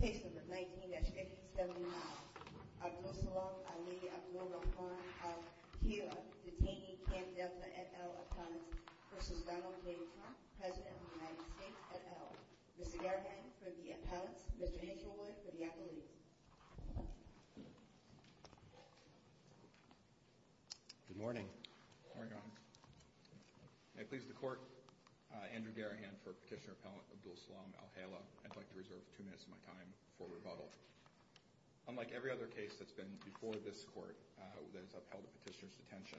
v. Donald J. Trump, President of the United States, et al. Mr. Garrahan for the appellants, Mr. Hitchelwood for the accolades. Good morning. Good morning, Your Honor. May it please the Court, Andrew Garrahan for Petitioner Appellant Abdulsalam Al-Hela. I'd like to reserve two minutes of my time for rebuttal. Unlike every other case that's been before this Court that has upheld a petitioner's detention,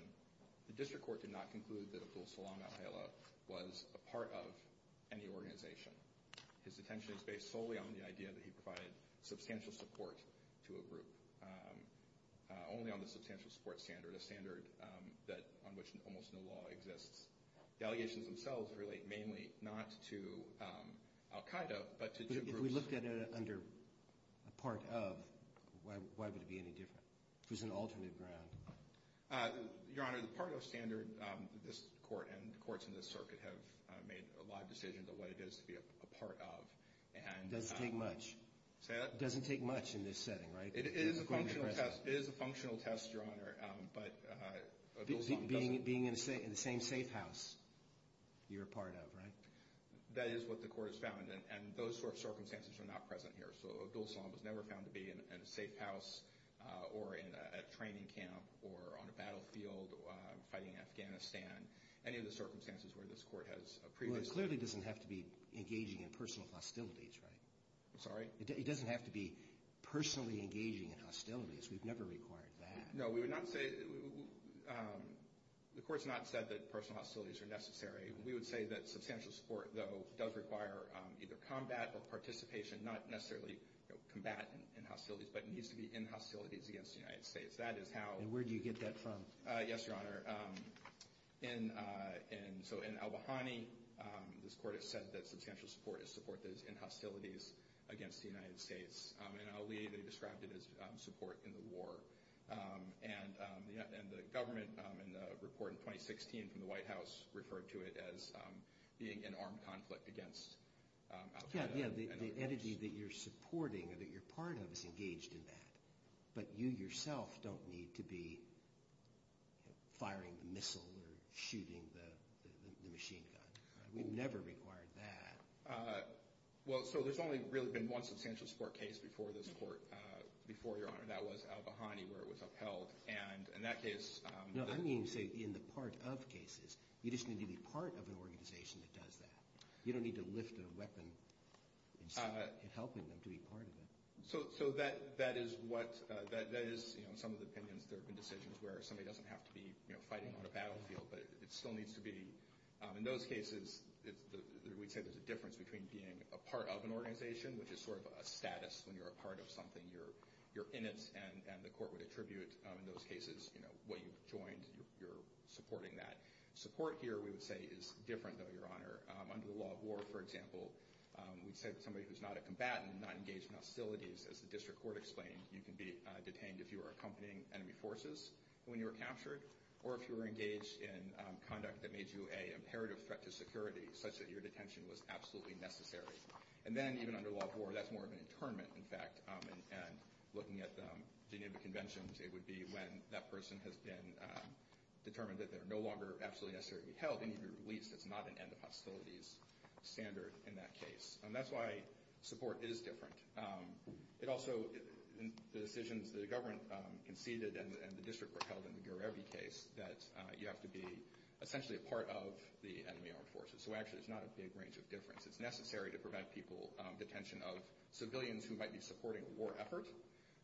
the District Court did not conclude that Abdulsalam Al-Hela was a part of any organization. His detention is based solely on the idea that he provided substantial support to a group, only on the substantial support standard, a standard on which almost no law exists. Delegations themselves relate mainly not to al-Qaeda, but to two groups. If we looked at it under a part of, why would it be any different? If it was an alternate ground? Your Honor, the part of standard, this Court and the courts in this circuit have made a lot of decisions of what it is to be a part of. It doesn't take much. Say that? It doesn't take much in this setting, right? It is a functional test, Your Honor, but Abdulsalam doesn't... Being in the same safe house you're a part of, right? That is what the Court has found, and those sort of circumstances are not present here. So Abdulsalam was never found to be in a safe house or in a training camp or on a battlefield fighting Afghanistan, any of the circumstances where this Court has previously... Well, it clearly doesn't have to be engaging in personal hostilities, right? I'm sorry? It doesn't have to be personally engaging in hostilities. We've never required that. No, we would not say... The Court's not said that personal hostilities are necessary. We would say that substantial support, though, does require either combat or participation, not necessarily combat and hostilities, but it needs to be in hostilities against the United States. That is how... And where do you get that from? Yes, Your Honor. So in al-Bahani, this Court has said that substantial support is support that is in hostilities against the United States. In al-Ali, they described it as support in the war. And the government, in the report in 2016 from the White House, referred to it as being in armed conflict against al-Qaeda and other groups. Yes, the entity that you're supporting or that you're part of is engaged in that, but you yourself don't need to be firing the missile or shooting the machine gun. We've never required that. Well, so there's only really been one substantial support case before this Court, before, Your Honor. That was al-Bahani, where it was upheld. And in that case... No, I mean, say, in the part of cases. You just need to be part of an organization that does that. You don't need to lift a weapon instead of helping them to be part of it. So that is some of the opinions. There have been decisions where somebody doesn't have to be fighting on a battlefield, but it still needs to be. In those cases, we'd say there's a difference between being a part of an organization, which is sort of a status when you're a part of something, you're in it, and the Court would attribute in those cases what you've joined, you're supporting that. Support here, we would say, is different, though, Your Honor. Under the law of war, for example, we'd say that somebody who's not a combatant, not engaged in hostilities, as the district court explained, you can be detained if you were accompanying enemy forces when you were captured, or if you were engaged in conduct that made you an imperative threat to security, such that your detention was absolutely necessary. And then, even under law of war, that's more of an internment, in fact. And looking at the Geneva Conventions, it would be when that person has been determined that they're no longer absolutely necessary to be held, and if you're released, it's not an end of hostilities standard in that case. And that's why support is different. It also, in the decisions that the government conceded and the district court held in the Gurevi case, that you have to be essentially a part of the enemy armed forces. So, actually, it's not a big range of difference. It's necessary to provide people detention of civilians who might be supporting a war effort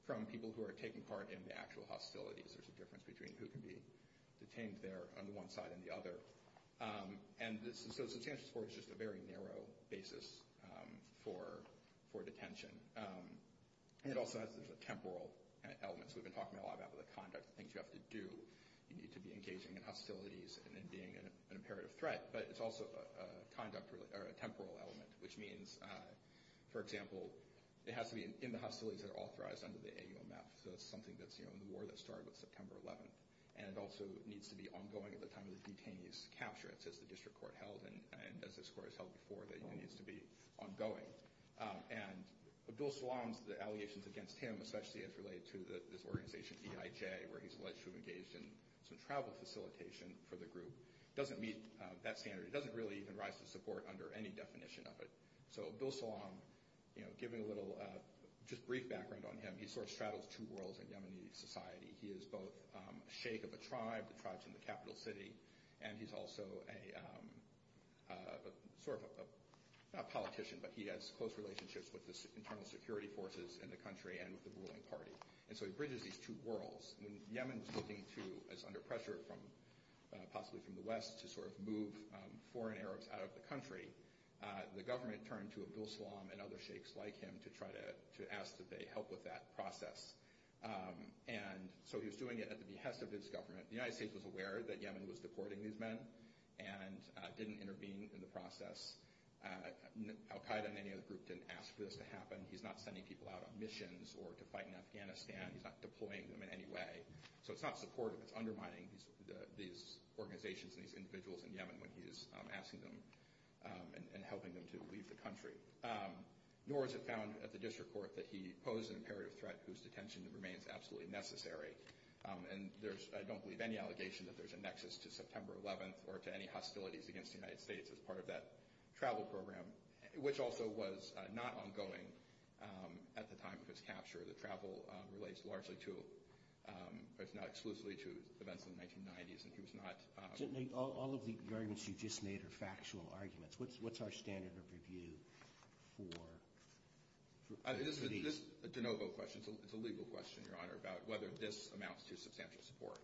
from people who are taking part in the actual hostilities. There's a difference between who can be detained there on one side and the other. And so substantial support is just a very narrow basis for detention. And it also has a temporal element. So we've been talking a lot about the conduct, the things you have to do. You need to be engaging in hostilities and then being an imperative threat. But it's also a temporal element, which means, for example, it has to be in the hostilities that are authorized under the AUMF. So that's something that's in the war that started with September 11th. And it also needs to be ongoing at the time of the detainee's capture, as the district court held and as this court has held before, that it needs to be ongoing. And Abdul Salam's allegations against him, especially as related to this organization EIJ, where he's alleged to have engaged in some travel facilitation for the group, doesn't meet that standard. It doesn't really even rise to support under any definition of it. So Abdul Salam, you know, giving a little just brief background on him, he sort of straddles two worlds in Yemeni society. He is both a sheikh of a tribe, the tribes in the capital city, and he's also a sort of a politician, but he has close relationships with the internal security forces in the country and with the ruling party. And so he bridges these two worlds. When Yemen was looking to, as under pressure from possibly from the West, to sort of move foreign Arabs out of the country, the government turned to Abdul Salam and other sheikhs like him to try to ask that they help with that process. And so he was doing it at the behest of his government. The United States was aware that Yemen was deporting these men and didn't intervene in the process. Al Qaeda and any other group didn't ask for this to happen. He's not sending people out on missions or to fight in Afghanistan. He's not deploying them in any way. So it's not supportive. It's undermining these organizations and these individuals in Yemen when he is asking them and helping them to leave the country. Nor is it found at the district court that he posed an imperative threat whose detention remains absolutely necessary. And there's, I don't believe, any allegation that there's a nexus to September 11th or to any hostilities against the United States as part of that travel program, which also was not ongoing at the time of his capture. The travel relates largely to, if not exclusively, to events in the 1990s. All of the arguments you just made are factual arguments. What's our standard of review for these? This is a de novo question. It's a legal question, Your Honor, about whether this amounts to substantial support.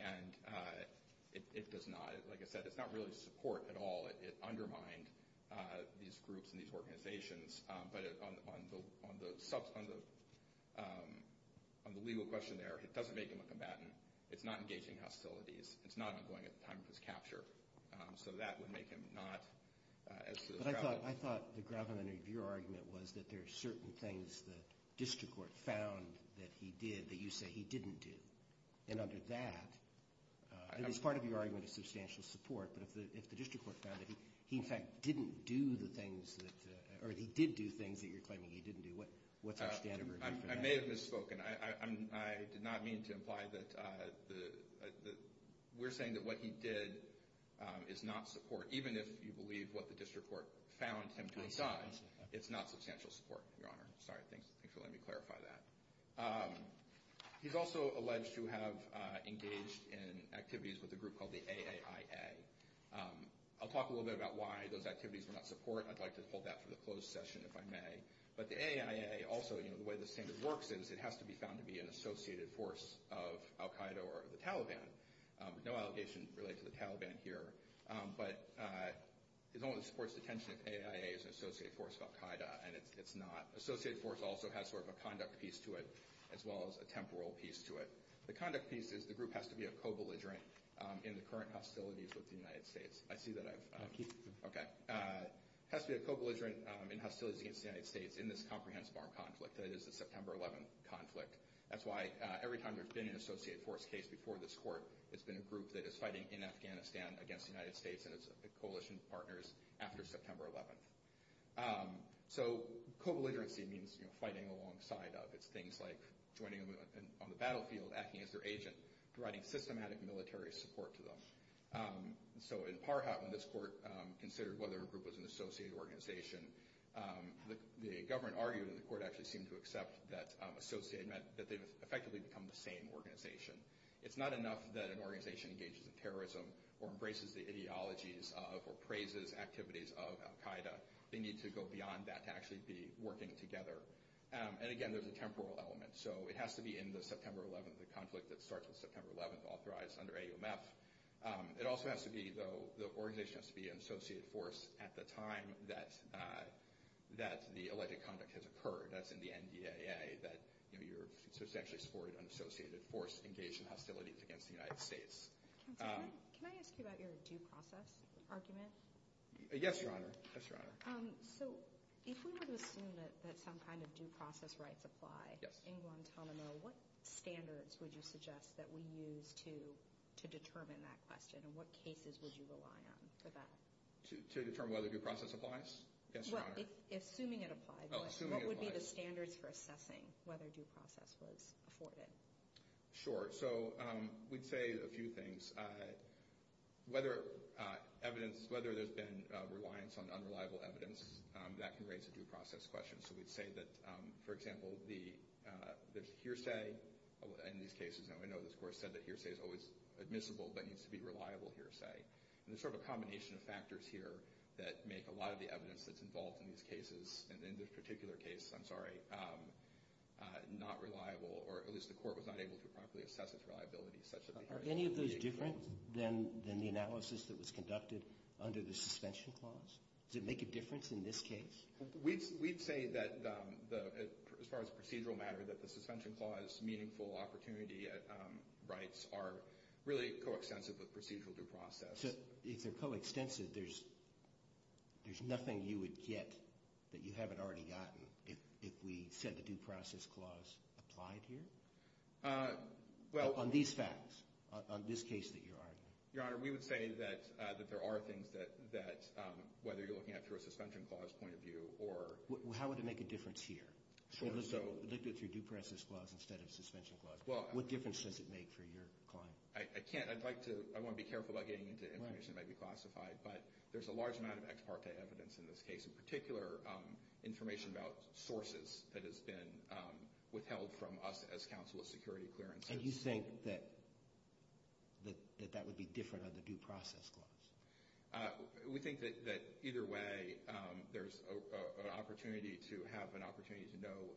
And it does not. Like I said, it's not really support at all. It undermined these groups and these organizations. But on the legal question there, it doesn't make him a combatant. It's not engaging hostilities. It's not ongoing at the time of his capture. So that would make him not as to the travel. But I thought the gravamen of your argument was that there are certain things the district court found that he did that you say he didn't do. And under that, it was part of your argument of substantial support, but if the district court found that he, in fact, didn't do the things that or he did do things that you're claiming he didn't do, what's our standard of review for that? I may have misspoken. I did not mean to imply that we're saying that what he did is not support. Even if you believe what the district court found him to have done, it's not substantial support, Your Honor. Sorry. Thanks for letting me clarify that. He's also alleged to have engaged in activities with a group called the AAIA. I'll talk a little bit about why those activities were not support. I'd like to hold that for the closed session, if I may. But the AAIA also, you know, the way the standard works is it has to be found to be an associated force of al-Qaida or the Taliban. No allegation related to the Taliban here. But it only supports detention if AAIA is an associated force of al-Qaida, and it's not. Associated force also has sort of a conduct piece to it as well as a temporal piece to it. The conduct piece is the group has to be a co-belligerent in the current hostilities with the United States. I see that I've – okay. It has to be a co-belligerent in hostilities against the United States in this comprehensive armed conflict, that is the September 11th conflict. That's why every time there's been an associated force case before this court, it's been a group that is fighting in Afghanistan against the United States and its coalition partners after September 11th. So co-belligerency means fighting alongside of. It's things like joining them on the battlefield, acting as their agent, providing systematic military support to them. So in Parhat, when this court considered whether a group was an associated organization, the government argued and the court actually seemed to accept that associated meant that they effectively become the same organization. It's not enough that an organization engages in terrorism or embraces the ideologies of or praises activities of al-Qaida. They need to go beyond that to actually be working together. And, again, there's a temporal element. So it has to be in the September 11th, the conflict that starts with September 11th, authorized under AUMF. It also has to be, though – the organization has to be an associated force at the time that the alleged conduct has occurred. That's in the NDAA, that you're a substantially supported and associated force engaged in hostilities against the United States. Counselor, can I ask you about your due process argument? Yes, Your Honor. Yes, Your Honor. So if we were to assume that some kind of due process rights apply in Guantanamo, what standards would you suggest that we use to determine that question, and what cases would you rely on for that? To determine whether due process applies? Yes, Your Honor. Well, assuming it applies. Oh, assuming it applies. What would be the standards for assessing whether due process was afforded? Sure. So we'd say a few things. Whether evidence – whether there's been reliance on unreliable evidence, that can raise a due process question. So we'd say that, for example, the hearsay in these cases – and I know this Court said that hearsay is always admissible but needs to be reliable hearsay. And there's sort of a combination of factors here that make a lot of the evidence that's involved in these cases, and in this particular case, I'm sorry, not reliable, or at least the Court was not able to properly assess its reliability. Are any of those different than the analysis that was conducted under the suspension clause? Does it make a difference in this case? We'd say that, as far as procedural matter, that the suspension clause, meaningful opportunity rights, are really coextensive with procedural due process. So if they're coextensive, there's nothing you would get that you haven't already gotten if we said the due process clause applied here? Well – On these facts, on this case that you're arguing. Your Honor, we would say that there are things that, whether you're looking at it through a suspension clause point of view or – How would it make a difference here? If it was looked at through due process clause instead of suspension clause, what difference does it make for your client? I can't – I'd like to – I want to be careful about getting into information that might be classified, but there's a large amount of ex parte evidence in this case, in particular information about sources that has been withheld from us as counsel of security clearances. And you think that that would be different under the due process clause? We think that either way, there's an opportunity to have an opportunity to know –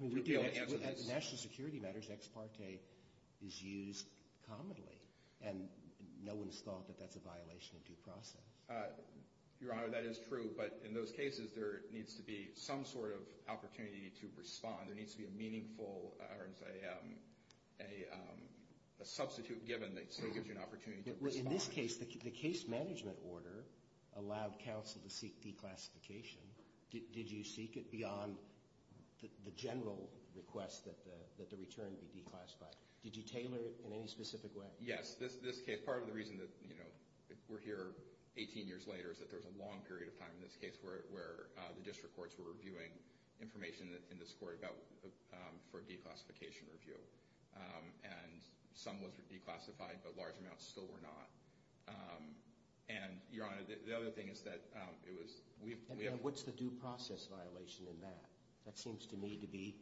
I mean, at the national security matters, ex parte is used commonly, and no one's thought that that's a violation of due process. Your Honor, that is true, but in those cases, there needs to be some sort of opportunity to respond. There needs to be a meaningful – or a substitute given that still gives you an opportunity to respond. Well, in this case, the case management order allowed counsel to seek declassification. Did you seek it beyond the general request that the return be declassified? Did you tailor it in any specific way? Yes. This case, part of the reason that, you know, we're here 18 years later is that there's a long period of time in this case where the district courts were reviewing information in this court about – for declassification review. And some was declassified, but large amounts still were not. And, Your Honor, the other thing is that it was – we have – And what's the due process violation in that? That seems to me to be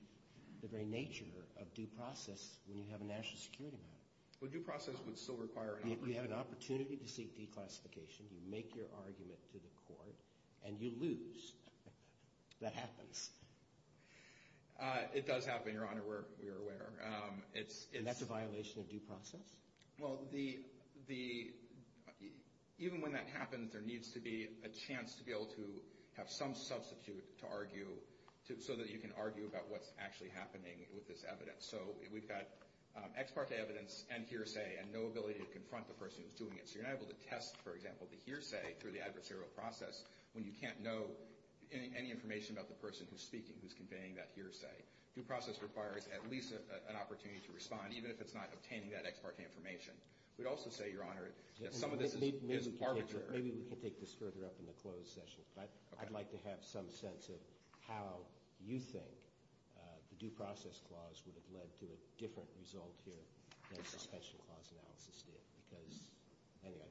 the very nature of due process when you have a national security matter. Well, due process would still require an opportunity. You have an opportunity to seek declassification. You make your argument to the court, and you lose. That happens. It does happen, Your Honor, we're aware. And that's a violation of due process? Well, the – even when that happens, there needs to be a chance to be able to have some substitute to argue so that you can argue about what's actually happening with this evidence. So we've got ex parte evidence and hearsay and no ability to confront the person who's doing it. So you're not able to test, for example, the hearsay through the adversarial process when you can't know any information about the person who's speaking, who's conveying that hearsay. Due process requires at least an opportunity to respond, even if it's not obtaining that ex parte information. We'd also say, Your Honor, that some of this is arbitrary. Maybe we can take this further up in the closed session. Okay. But I'd like to have some sense of how you think the due process clause would have led to a different result here than the suspension clause analysis did, because – anyway.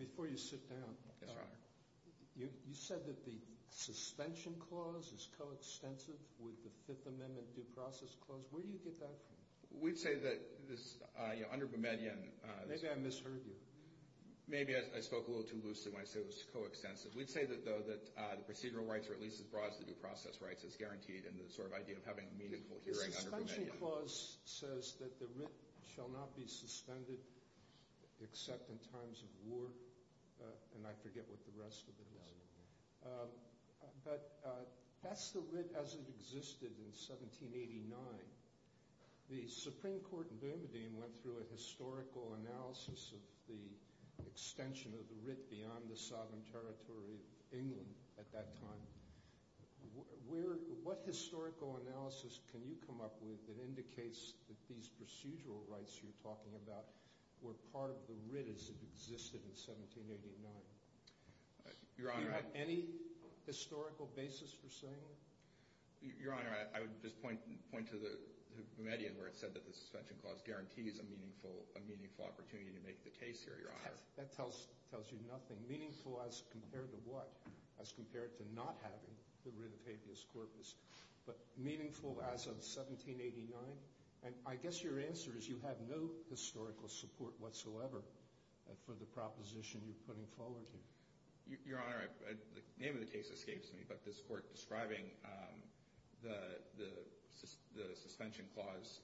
Before you sit down – Yes, Your Honor. You said that the suspension clause is coextensive with the Fifth Amendment due process clause. Where do you get that from? We'd say that this – under Bermudian – Maybe I misheard you. Maybe I spoke a little too loosely when I said it was coextensive. We'd say, though, that the procedural rights are at least as broad as the due process rights. It's guaranteed in the sort of idea of having a meaningful hearing under Bermudian. The suspension clause says that the writ shall not be suspended except in times of war. And I forget what the rest of it is. But that's the writ as it existed in 1789. The Supreme Court in Bermudian went through a historical analysis of the extension of the writ beyond the sovereign territory of England at that time. What historical analysis can you come up with that indicates that these procedural rights you're talking about were part of the writ as it existed in 1789? Your Honor – Do you have any historical basis for saying that? Your Honor, I would just point to Bermudian where it said that the suspension clause guarantees a meaningful opportunity to make the case here, Your Honor. That tells you nothing. Meaningful as compared to what? As compared to not having the writ of habeas corpus. But meaningful as of 1789? And I guess your answer is you have no historical support whatsoever for the proposition you're putting forward here. Your Honor, the name of the case escapes me, but this Court describing the suspension clause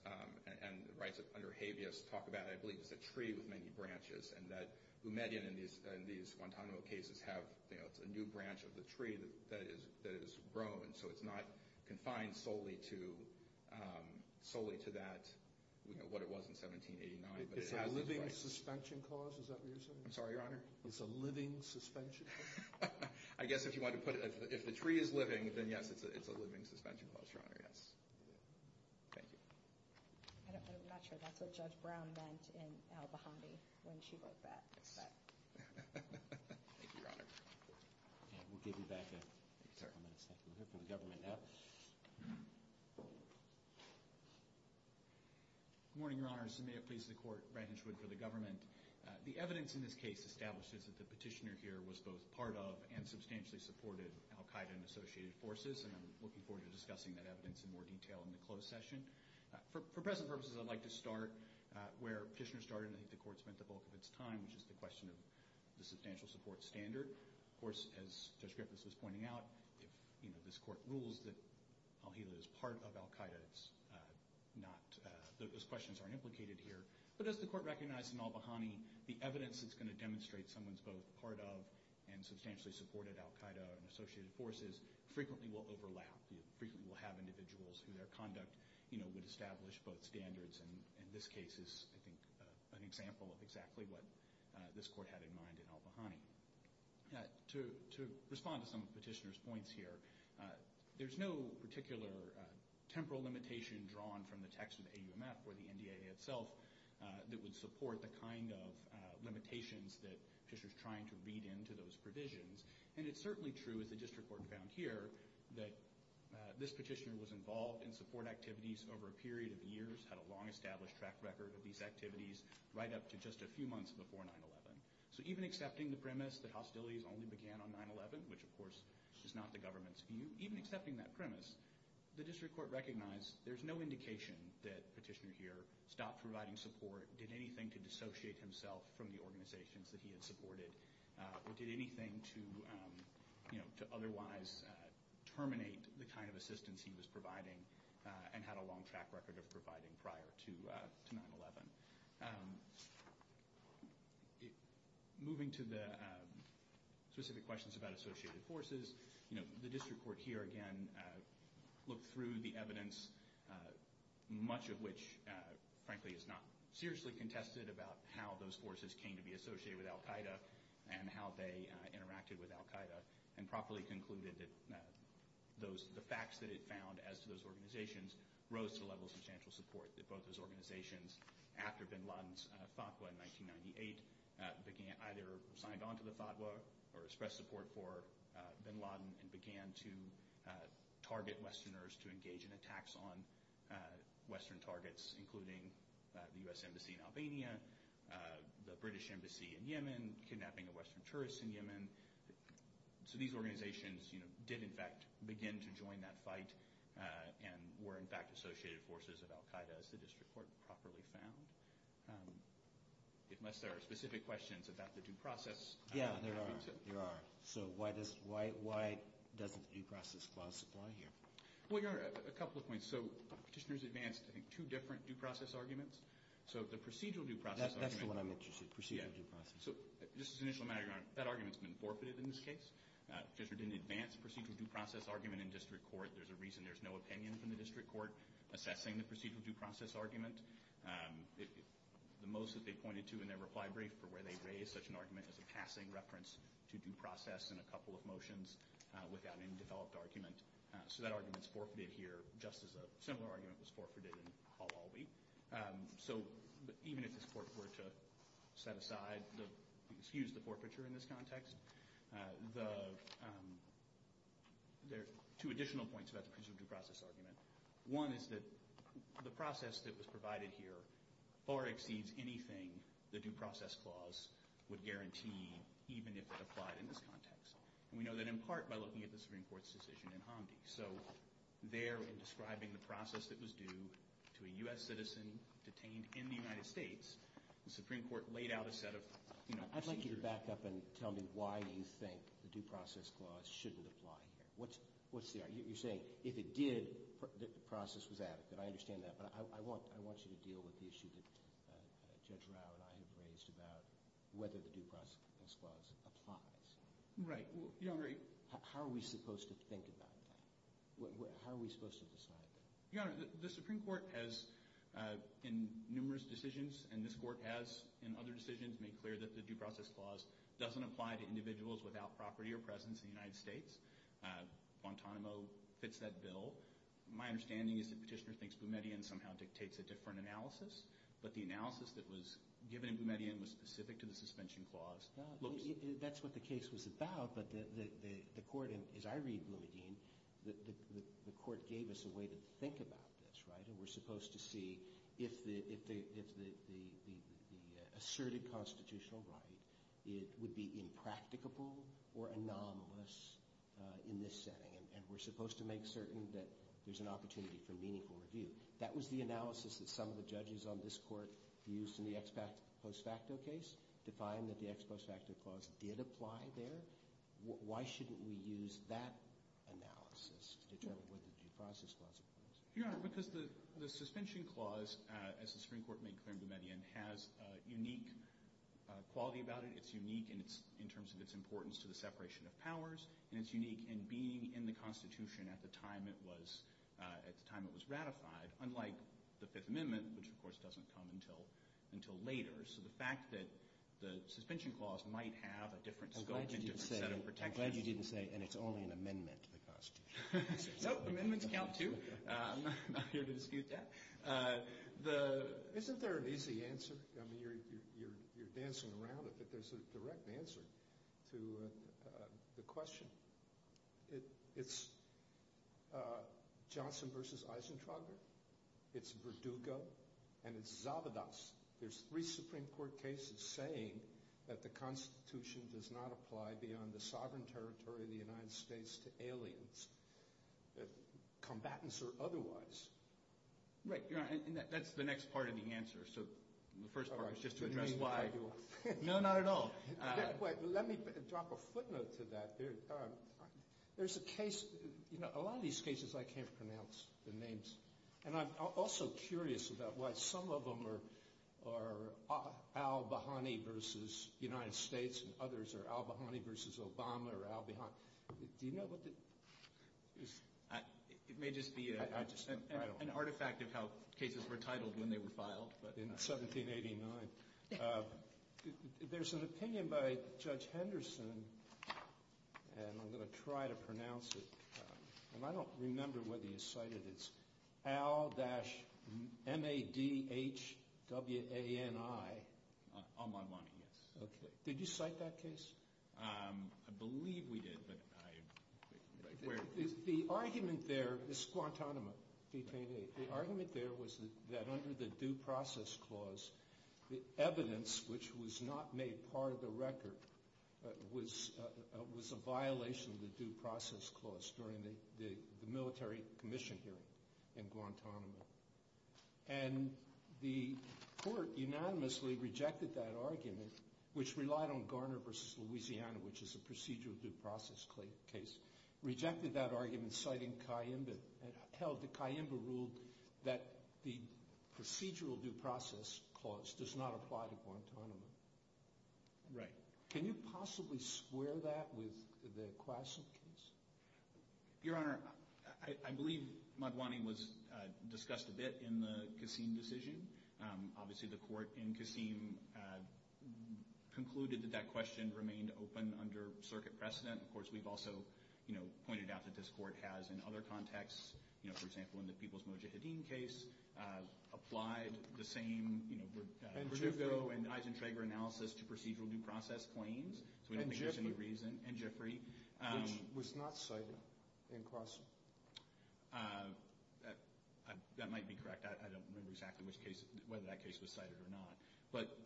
and the rights under habeas talk about, I believe, is a tree with many branches and that Bermudian and these Guantanamo cases have a new branch of the tree that is grown, so it's not confined solely to that, what it was in 1789. It's a living suspension clause? Is that what you're saying? I'm sorry, Your Honor? It's a living suspension clause? I guess if the tree is living, then yes, it's a living suspension clause, Your Honor, yes. Thank you. I'm not sure that's what Judge Brown meant in Al-Bahami when she wrote that. Thank you, Your Honor. We'll give you back a couple minutes. We'll hear from the government now. Good morning, Your Honors, and may it please the Court, Brandon Schwinn for the government. The evidence in this case establishes that the petitioner here was both part of and substantially supported Al-Qaeda and associated forces, and I'm looking forward to discussing that evidence in more detail in the closed session. For present purposes, I'd like to start where the petitioner started, and I think the Court spent the bulk of its time, which is the question of the substantial support standard. Of course, as Judge Griffiths was pointing out, if this Court rules that al-Hila is part of Al-Qaeda, those questions aren't implicated here. But does the Court recognize in Al-Bahami the evidence that's going to demonstrate someone's both part of and substantially supported Al-Qaeda and associated forces frequently will overlap, frequently will have individuals who their conduct would establish both standards, and this case is, I think, an example of exactly what this Court had in mind in Al-Bahami. To respond to some of the petitioner's points here, there's no particular temporal limitation drawn from the text of the AUMF or the NDA itself that would support the kind of limitations that the petitioner's trying to read into those provisions. And it's certainly true, as the District Court found here, that this petitioner was involved in support activities over a period of years, had a long established track record of these activities right up to just a few months before 9-11. So even accepting the premise that hostilities only began on 9-11, which of course is not the government's view, even accepting that premise, the District Court recognized there's no indication that petitioner here stopped providing support, did anything to dissociate himself from the organizations that he had supported, or did anything to otherwise terminate the kind of assistance he was providing and had a long track record of providing prior to 9-11. Moving to the specific questions about associated forces, the District Court here again looked through the evidence, much of which frankly is not seriously contested about how those forces came to be associated with al-Qaida and how they interacted with al-Qaida, and properly concluded that the facts that it found as to those organizations rose to the level of substantial support that both those organizations, after bin Laden's fatwa in 1998, either signed on to the fatwa or expressed support for bin Laden and began to target Westerners to engage in attacks on Western targets, including the U.S. Embassy in Albania, the British Embassy in Yemen, kidnapping of Western tourists in Yemen. So these organizations did in fact begin to join that fight and were in fact associated forces of al-Qaida, as the District Court properly found. Unless there are specific questions about the due process. Yeah, there are. There are. So why doesn't due process clause apply here? Well, there are a couple of points. So petitioners advanced, I think, two different due process arguments. So the procedural due process argument. That's the one I meant to say, procedural due process. So just as an initial matter, Your Honor, that argument's been forfeited in this case. The petitioner didn't advance the procedural due process argument in District Court. There's a reason there's no opinion from the District Court assessing the procedural due process argument. The most that they pointed to in their reply brief, for where they raised such an argument as a passing reference to due process in a couple of motions without any developed argument. So that argument's forfeited here, just as a similar argument was forfeited in al-Awli. So even if this Court were to set aside, excuse the forfeiture in this context, there are two additional points about the procedural due process argument. One is that the process that was provided here far exceeds anything the due process clause would guarantee, even if it applied in this context. And we know that in part by looking at the Supreme Court's decision in Hamdi. So there, in describing the process that was due to a U.S. citizen detained in the United States, the Supreme Court laid out a set of procedures. I'd like you to back up and tell me why you think the due process clause shouldn't apply here. What's the argument? You're saying if it did, the process was adequate. I understand that, but I want you to deal with the issue that Judge Rau and I have raised about whether the due process clause applies. Right. How are we supposed to think about that? How are we supposed to decide that? Your Honor, the Supreme Court has, in numerous decisions, and this Court has in other decisions, made clear that the due process clause doesn't apply to individuals without property or presence in the United States. Guantanamo fits that bill. My understanding is that Petitioner thinks Boumediene somehow dictates a different analysis, but the analysis that was given in Boumediene was specific to the suspension clause. That's what the case was about, but the Court, as I read Boumediene, the Court gave us a way to think about this, right? We're supposed to see if the asserted constitutional right would be impracticable or anomalous in this setting, and we're supposed to make certain that there's an opportunity for meaningful review. That was the analysis that some of the judges on this Court used in the ex post facto case to find that the ex post facto clause did apply there. Why shouldn't we use that analysis to determine whether the due process clause applies? Your Honor, because the suspension clause, as the Supreme Court made clear in Boumediene, has a unique quality about it. It's unique in terms of its importance to the separation of powers, and it's unique in being in the Constitution at the time it was ratified, unlike the Fifth Amendment, which, of course, doesn't come until later. So the fact that the suspension clause might have a different scope and different set of protections. I'm glad you didn't say, and it's only an amendment to the Constitution. No, amendments count, too. I'm not here to dispute that. Isn't there an easy answer? I mean, you're dancing around it, but there's a direct answer to the question. It's Johnson v. Eisentrager. It's Verdugo. And it's Zavidas. There's three Supreme Court cases saying that the Constitution does not apply beyond the sovereign territory of the United States to aliens, combatants or otherwise. Right. That's the next part of the answer. So the first part is just to address why. No, not at all. Let me drop a footnote to that. There's a case, you know, a lot of these cases I can't pronounce the names. And I'm also curious about why some of them are al-Bahani v. United States and others are al-Bahani v. Obama or al-Bahani. Do you know what the – It may just be an artifact of how cases were titled when they were filed. In 1789. There's an opinion by Judge Henderson, and I'm going to try to pronounce it. And I don't remember whether you cited it. It's al-M-A-D-H-W-A-N-I. On my money, yes. Okay. Did you cite that case? I believe we did, but I'm not quite sure. The argument there is Guantanamo v. Payne 8. The argument there was that under the Due Process Clause, the evidence which was not made part of the record was a violation of the Due Process Clause during the military commission hearing in Guantanamo. And the court unanimously rejected that argument, which relied on Garner v. Louisiana, which is a procedural due process case, rejected that argument, citing Cayimba, and held that Cayimba ruled that the procedural due process clause does not apply to Guantanamo. Right. Can you possibly square that with the Quasim case? Your Honor, I believe Magwane was discussed a bit in the Qasim decision. Obviously, the court in Qasim concluded that that question remained open under circuit precedent. Of course, we've also pointed out that this court has, in other contexts, for example, in the People's Mojahedin case, applied the same Produgo and Eisentrager analysis to procedural due process claims, so we don't think there's any reason. Which was not cited in Qasim. That might be correct. I don't remember exactly whether that case was cited or not. But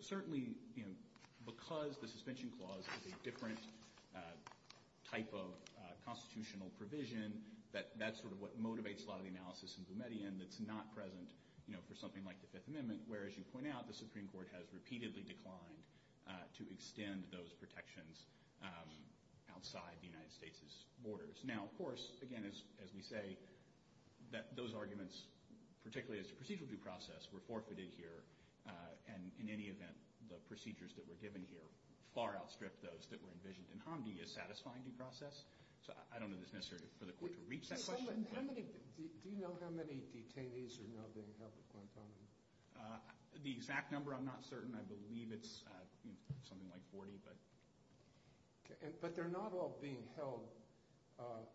certainly, because the suspension clause is a different type of constitutional provision, that's sort of what motivates a lot of the analysis in Boumediene that's not present for something like the Fifth Amendment, where, as you point out, the Supreme Court has repeatedly declined to extend those protections outside the United States' borders. Now, of course, again, as we say, those arguments, particularly as to procedural due process, were forfeited here. And in any event, the procedures that were given here far outstripped those that were envisioned in Hamdi as satisfying due process. So I don't know that it's necessary for the court to reach that question. Do you know how many detainees are now being held at Guantanamo? The exact number, I'm not certain. I believe it's something like 40. But they're not all being held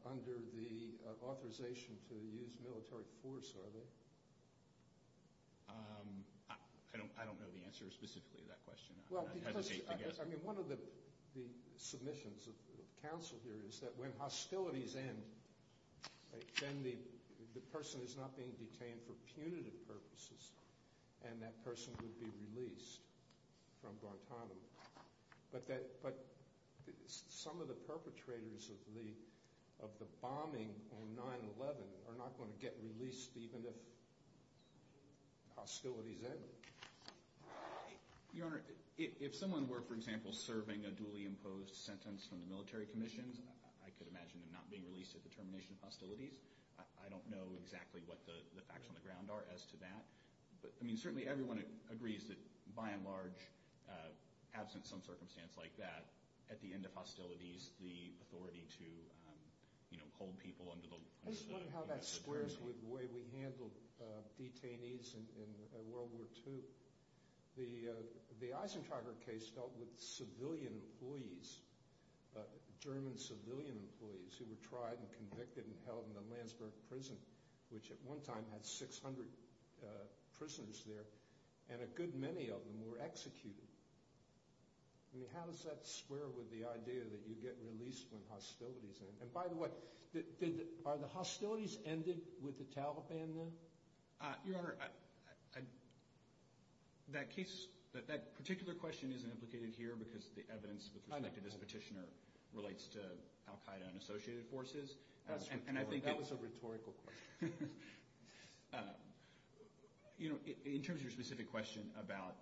under the authorization to use military force, are they? I don't know the answer specifically to that question. I mean, one of the submissions of counsel here is that when hostilities end, then the person is not being detained for punitive purposes, and that person would be released from Guantanamo. But some of the perpetrators of the bombing on 9-11 are not going to get released even if hostilities end. Your Honor, if someone were, for example, serving a duly imposed sentence from the military commissions, I could imagine them not being released at the termination of hostilities. I don't know exactly what the facts on the ground are as to that. But, I mean, certainly everyone agrees that, by and large, absent some circumstance like that, at the end of hostilities, the authority to, you know, hold people under the law. I just wonder how that squares with the way we handled detainees in World War II. The Eisentrager case dealt with civilian employees, German civilian employees, who were tried and convicted and held in the Landsberg prison, which at one time had 600 prisoners there, and a good many of them were executed. I mean, how does that square with the idea that you get released when hostilities end? And, by the way, are the hostilities ended with the Taliban then? Your Honor, that case, that particular question isn't implicated here because the evidence, with respect to this petitioner, relates to Al-Qaeda and associated forces. That was a rhetorical question. You know, in terms of your specific question about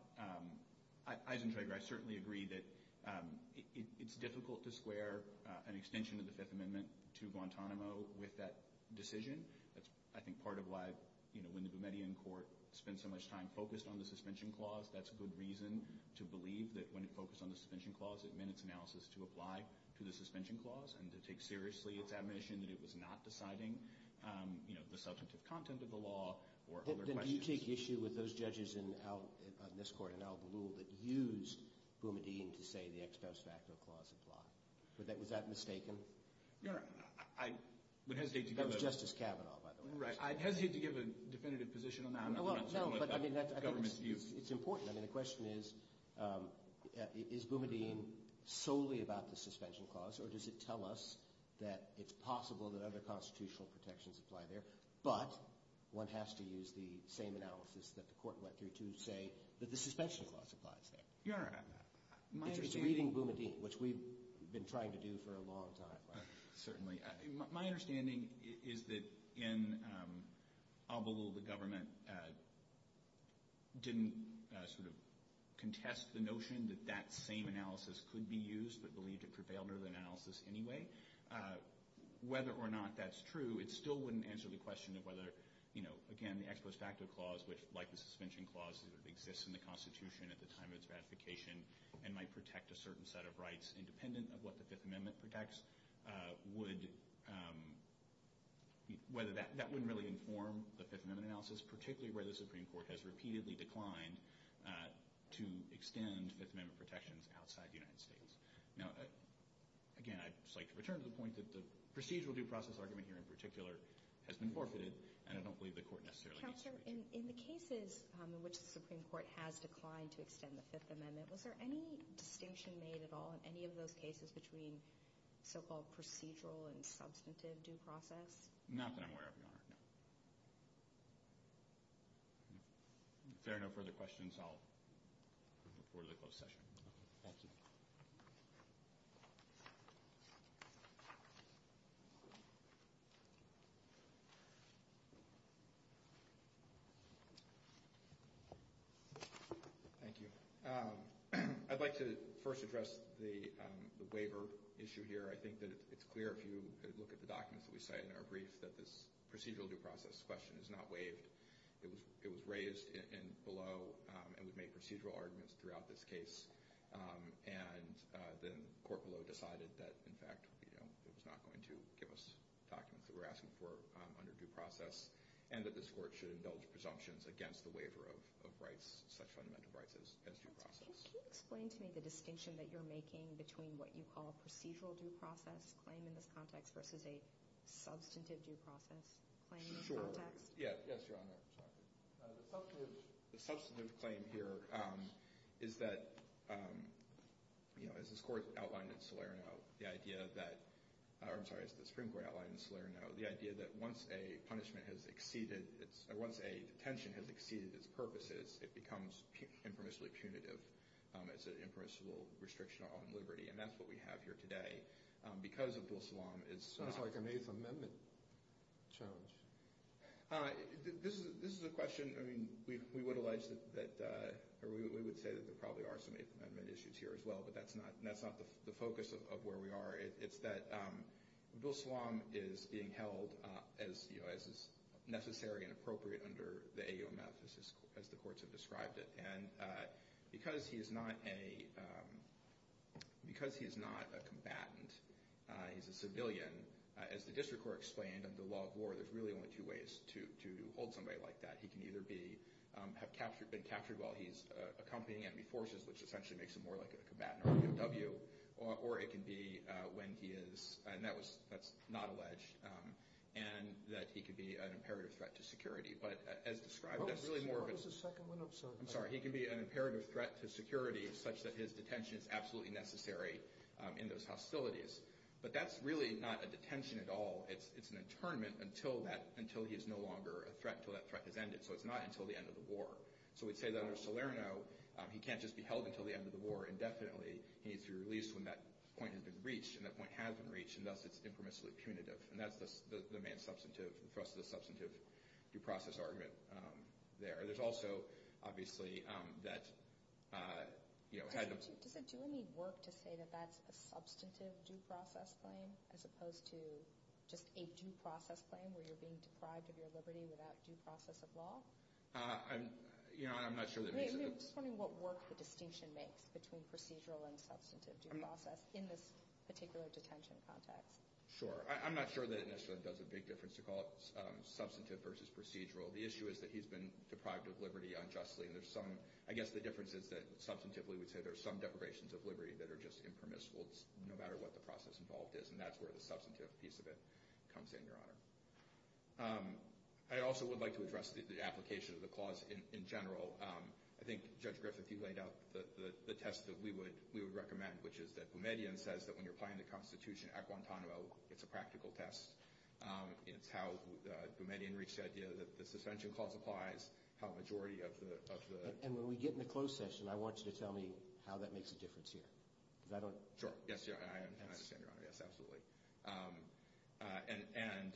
Eisentrager, I certainly agree that it's difficult to square an extension of the Fifth Amendment to Guantanamo with that decision. That's, I think, part of why, you know, when the Boumediene Court spent so much time focused on the suspension clause, that's a good reason to believe that when it focused on the suspension clause, it meant its analysis to apply to the suspension clause and to take seriously its admission that it was not deciding, you know, the substantive content of the law or other questions. Did you take issue with those judges in this court, in Al-Ghul, that used Boumediene to say the ex post facto clause applied? Was that mistaken? Your Honor, I would hesitate to give that— That was Justice Kavanaugh, by the way. Right. I'd hesitate to give a definitive position on that. Well, no, but I mean, it's important. I mean, the question is, is Boumediene solely about the suspension clause, or does it tell us that it's possible that other constitutional protections apply there, but one has to use the same analysis that the court went through to say that the suspension clause applies there? Your Honor, my understanding— It's reading Boumediene, which we've been trying to do for a long time, right? My understanding is that in Al-Ghul, the government didn't sort of contest the notion that that same analysis could be used, but believed it prevailed over the analysis anyway. Whether or not that's true, it still wouldn't answer the question of whether, you know, again, the ex post facto clause, which, like the suspension clause, exists in the Constitution at the time of its ratification and might protect a certain set of rights independent of what the Fifth Amendment protects, that wouldn't really inform the Fifth Amendment analysis, particularly where the Supreme Court has repeatedly declined to extend Fifth Amendment protections outside the United States. Now, again, I'd just like to return to the point that the procedural due process argument here in particular has been forfeited, and I don't believe the court necessarily needs to— Counselor, in the cases in which the Supreme Court has declined to extend the Fifth Amendment, was there any distinction made at all in any of those cases between so-called procedural and substantive due process? Not that I'm aware of, Your Honor, no. If there are no further questions, I'll move forward to the closed session. Thank you. Thank you. Thank you. I'd like to first address the waiver issue here. I think that it's clear if you look at the documents that we cite in our brief that this procedural due process question is not waived. It was raised below, and we've made procedural arguments throughout this case. And then the court below decided that, in fact, it was not going to give us documents that we're asking for under due process, and that this court should indulge presumptions against the waiver of rights, such fundamental rights as due process. Can you explain to me the distinction that you're making between what you call procedural due process claim in this context versus a substantive due process claim in this context? Sure. Yes, Your Honor. The substantive claim here is that, as the Supreme Court outlined in Salerno, the idea that once a detention has exceeded its purposes, it becomes impermissibly punitive. It's an impermissible restriction on liberty, and that's what we have here today. Because of Bill Salam, it's— It's like an Eighth Amendment challenge. This is a question—I mean, we would allege that— or we would say that there probably are some Eighth Amendment issues here as well, but that's not the focus of where we are. It's that Bill Salam is being held as necessary and appropriate under the AOMF, as the courts have described it. And because he is not a combatant, he's a civilian, as the district court explained under the law of war, there's really only two ways to hold somebody like that. He can either have been captured while he's accompanying enemy forces, which essentially makes him more like a combatant or a POW, or it can be when he is—and that's not alleged— and that he can be an imperative threat to security. But as described, that's really more of a— I'm sorry, he can be an imperative threat to security such that his detention is absolutely necessary in those hostilities. But that's really not a detention at all. It's an internment until he is no longer a threat, until that threat has ended. So it's not until the end of the war. So we'd say that under Salerno, he can't just be held until the end of the war indefinitely. He needs to be released when that point has been reached, and that point has been reached, and thus it's impermissibly punitive. And that's the main substantive—the thrust of the substantive due process argument there. There's also, obviously, that— Does it do any work to say that that's a substantive due process claim as opposed to just a due process claim where you're being deprived of your liberty without due process of law? You know, I'm not sure that— I'm just wondering what work the distinction makes between procedural and substantive due process in this particular detention context. Sure. I'm not sure that it necessarily does a big difference to call it substantive versus procedural. The issue is that he's been deprived of liberty unjustly, and there's some—I guess the difference is that substantively we'd say there's some deprivations of liberty that are just impermissible no matter what the process involved is, and that's where the substantive piece of it comes in, Your Honor. I also would like to address the application of the clause in general. I think, Judge Griffith, you laid out the test that we would recommend, which is that Boumediene says that when you're applying the Constitution at Guantanamo, it's a practical test. It's how Boumediene reached the idea that the suspension clause applies, and that's how a majority of the— And when we get in the closed session, I want you to tell me how that makes a difference here. Because I don't— Sure. Yes, Your Honor. And I understand, Your Honor. Yes, absolutely. And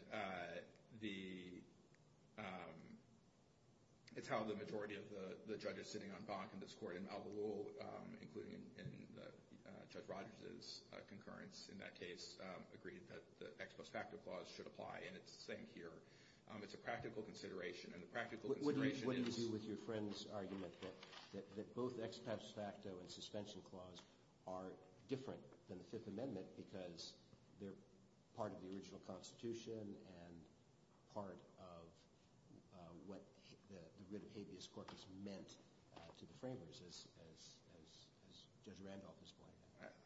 the—it's how the majority of the judges sitting on BAC in this court, in Malibu, including in Judge Rogers's concurrence in that case, agreed that the ex post facto clause should apply, and it's the same here. It's a practical consideration, and the practical consideration is— What do you do with your friend's argument that both ex post facto and suspension clause are different than the Fifth Amendment because they're part of the original Constitution and part of what the writ of habeas corpus meant to the framers, as Judge Randolph has pointed out?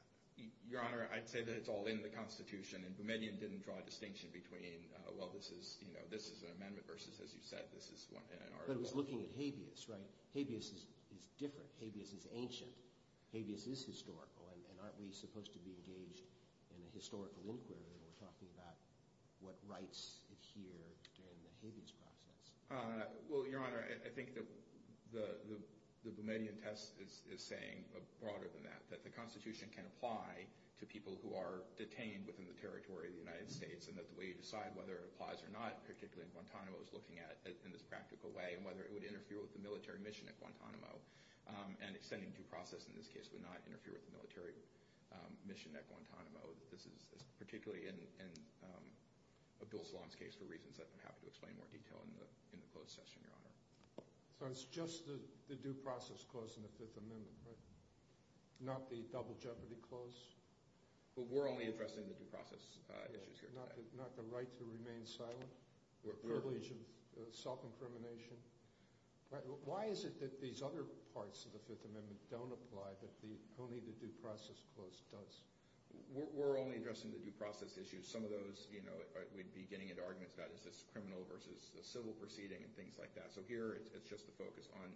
Your Honor, I'd say that it's all in the Constitution, and Boumediene didn't draw a distinction between, well, this is an amendment versus, as you said, this is an article— But it was looking at habeas, right? Habeas is different. Habeas is ancient. Habeas is historical, and aren't we supposed to be engaged in a historical inquiry when we're talking about what rights adhere during the habeas process? Well, Your Honor, I think that the Boumediene test is saying broader than that, that the Constitution can apply to people who are detained within the territory of the United States and that the way you decide whether it applies or not, particularly in Guantanamo, is looking at it in this practical way and whether it would interfere with the military mission at Guantanamo, and extending due process in this case would not interfere with the military mission at Guantanamo. This is particularly in Abdul Salam's case for reasons that I'm happy to explain in more detail in the closed session, Your Honor. So it's just the due process clause in the Fifth Amendment, right? Not the double jeopardy clause? Well, we're only addressing the due process issues here today. Not the right to remain silent? The privilege of self-incrimination? Why is it that these other parts of the Fifth Amendment don't apply, but only the due process clause does? We're only addressing the due process issues. Some of those we'd be getting into arguments about is this criminal versus civil proceeding and things like that. So here it's just the focus on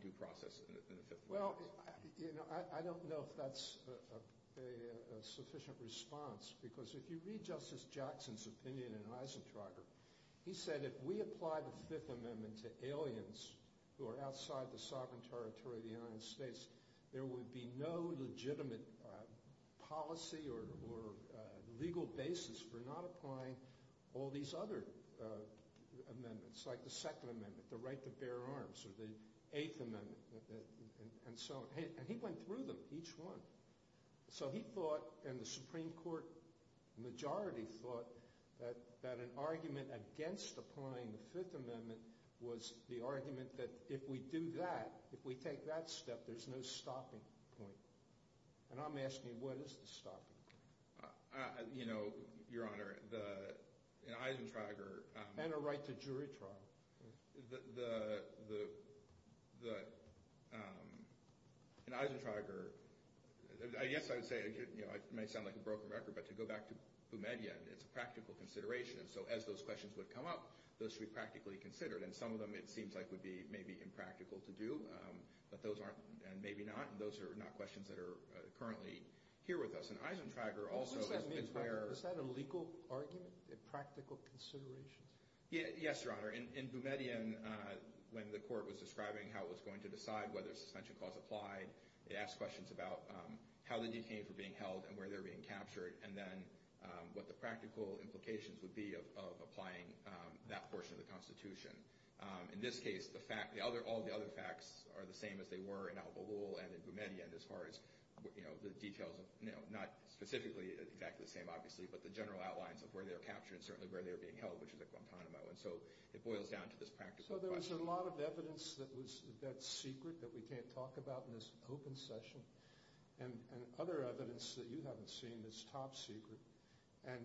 due process in the Fifth Amendment. Well, I don't know if that's a sufficient response because if you read Justice Jackson's opinion in Eisentrager, he said if we apply the Fifth Amendment to aliens who are outside the sovereign territory of the United States, there would be no legitimate policy or legal basis for not applying all these other amendments, like the Second Amendment, the right to bear arms, or the Eighth Amendment, and so on. And he went through them, each one. So he thought and the Supreme Court majority thought that an argument against applying the Fifth Amendment was the argument that if we do that, if we take that step, there's no stopping point. And I'm asking you, what is the stopping point? Your Honor, in Eisentrager— And a right to jury trial. In Eisentrager, I guess I would say, it may sound like a broken record, but to go back to Boumediene, it's a practical consideration. And so as those questions would come up, those should be practically considered. And some of them it seems like would be maybe impractical to do, but those aren't, and maybe not. And those are not questions that are currently here with us. In Eisentrager, also, it's where— Is that a legal argument, a practical consideration? Yes, Your Honor. In Boumediene, when the court was describing how it was going to decide whether a suspension clause applied, it asked questions about how the detainees were being held and where they were being captured, and then what the practical implications would be of applying that portion of the Constitution. In this case, all the other facts are the same as they were in Al-Ghul and in Boumediene, as far as the details of—not specifically exactly the same, obviously, but the general outlines of where they were captured and certainly where they were being held, which is at Guantanamo. And so it boils down to this practical question. So there was a lot of evidence that's secret that we can't talk about in this open session, and other evidence that you haven't seen that's top secret. And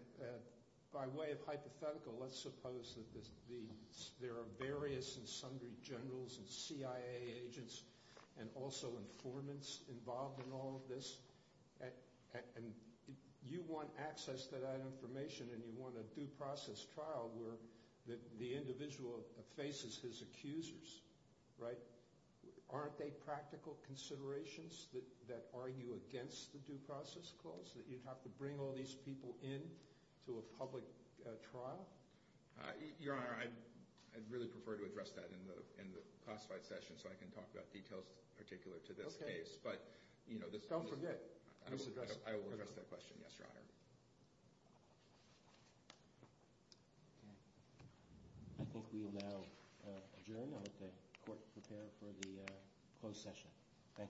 by way of hypothetical, let's suppose that there are various and sundry generals and CIA agents and also informants involved in all of this, and you want access to that information and you want a due process trial where the individual faces his accusers, right? Aren't they practical considerations that argue against the due process clause, that you'd have to bring all these people in to a public trial? Your Honor, I'd really prefer to address that in the classified session so I can talk about details particular to this case. Okay. But, you know, this— Don't forget. I will address that question, yes, Your Honor. I think we will now adjourn. I'll let the Court prepare for the closed session. Thank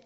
you.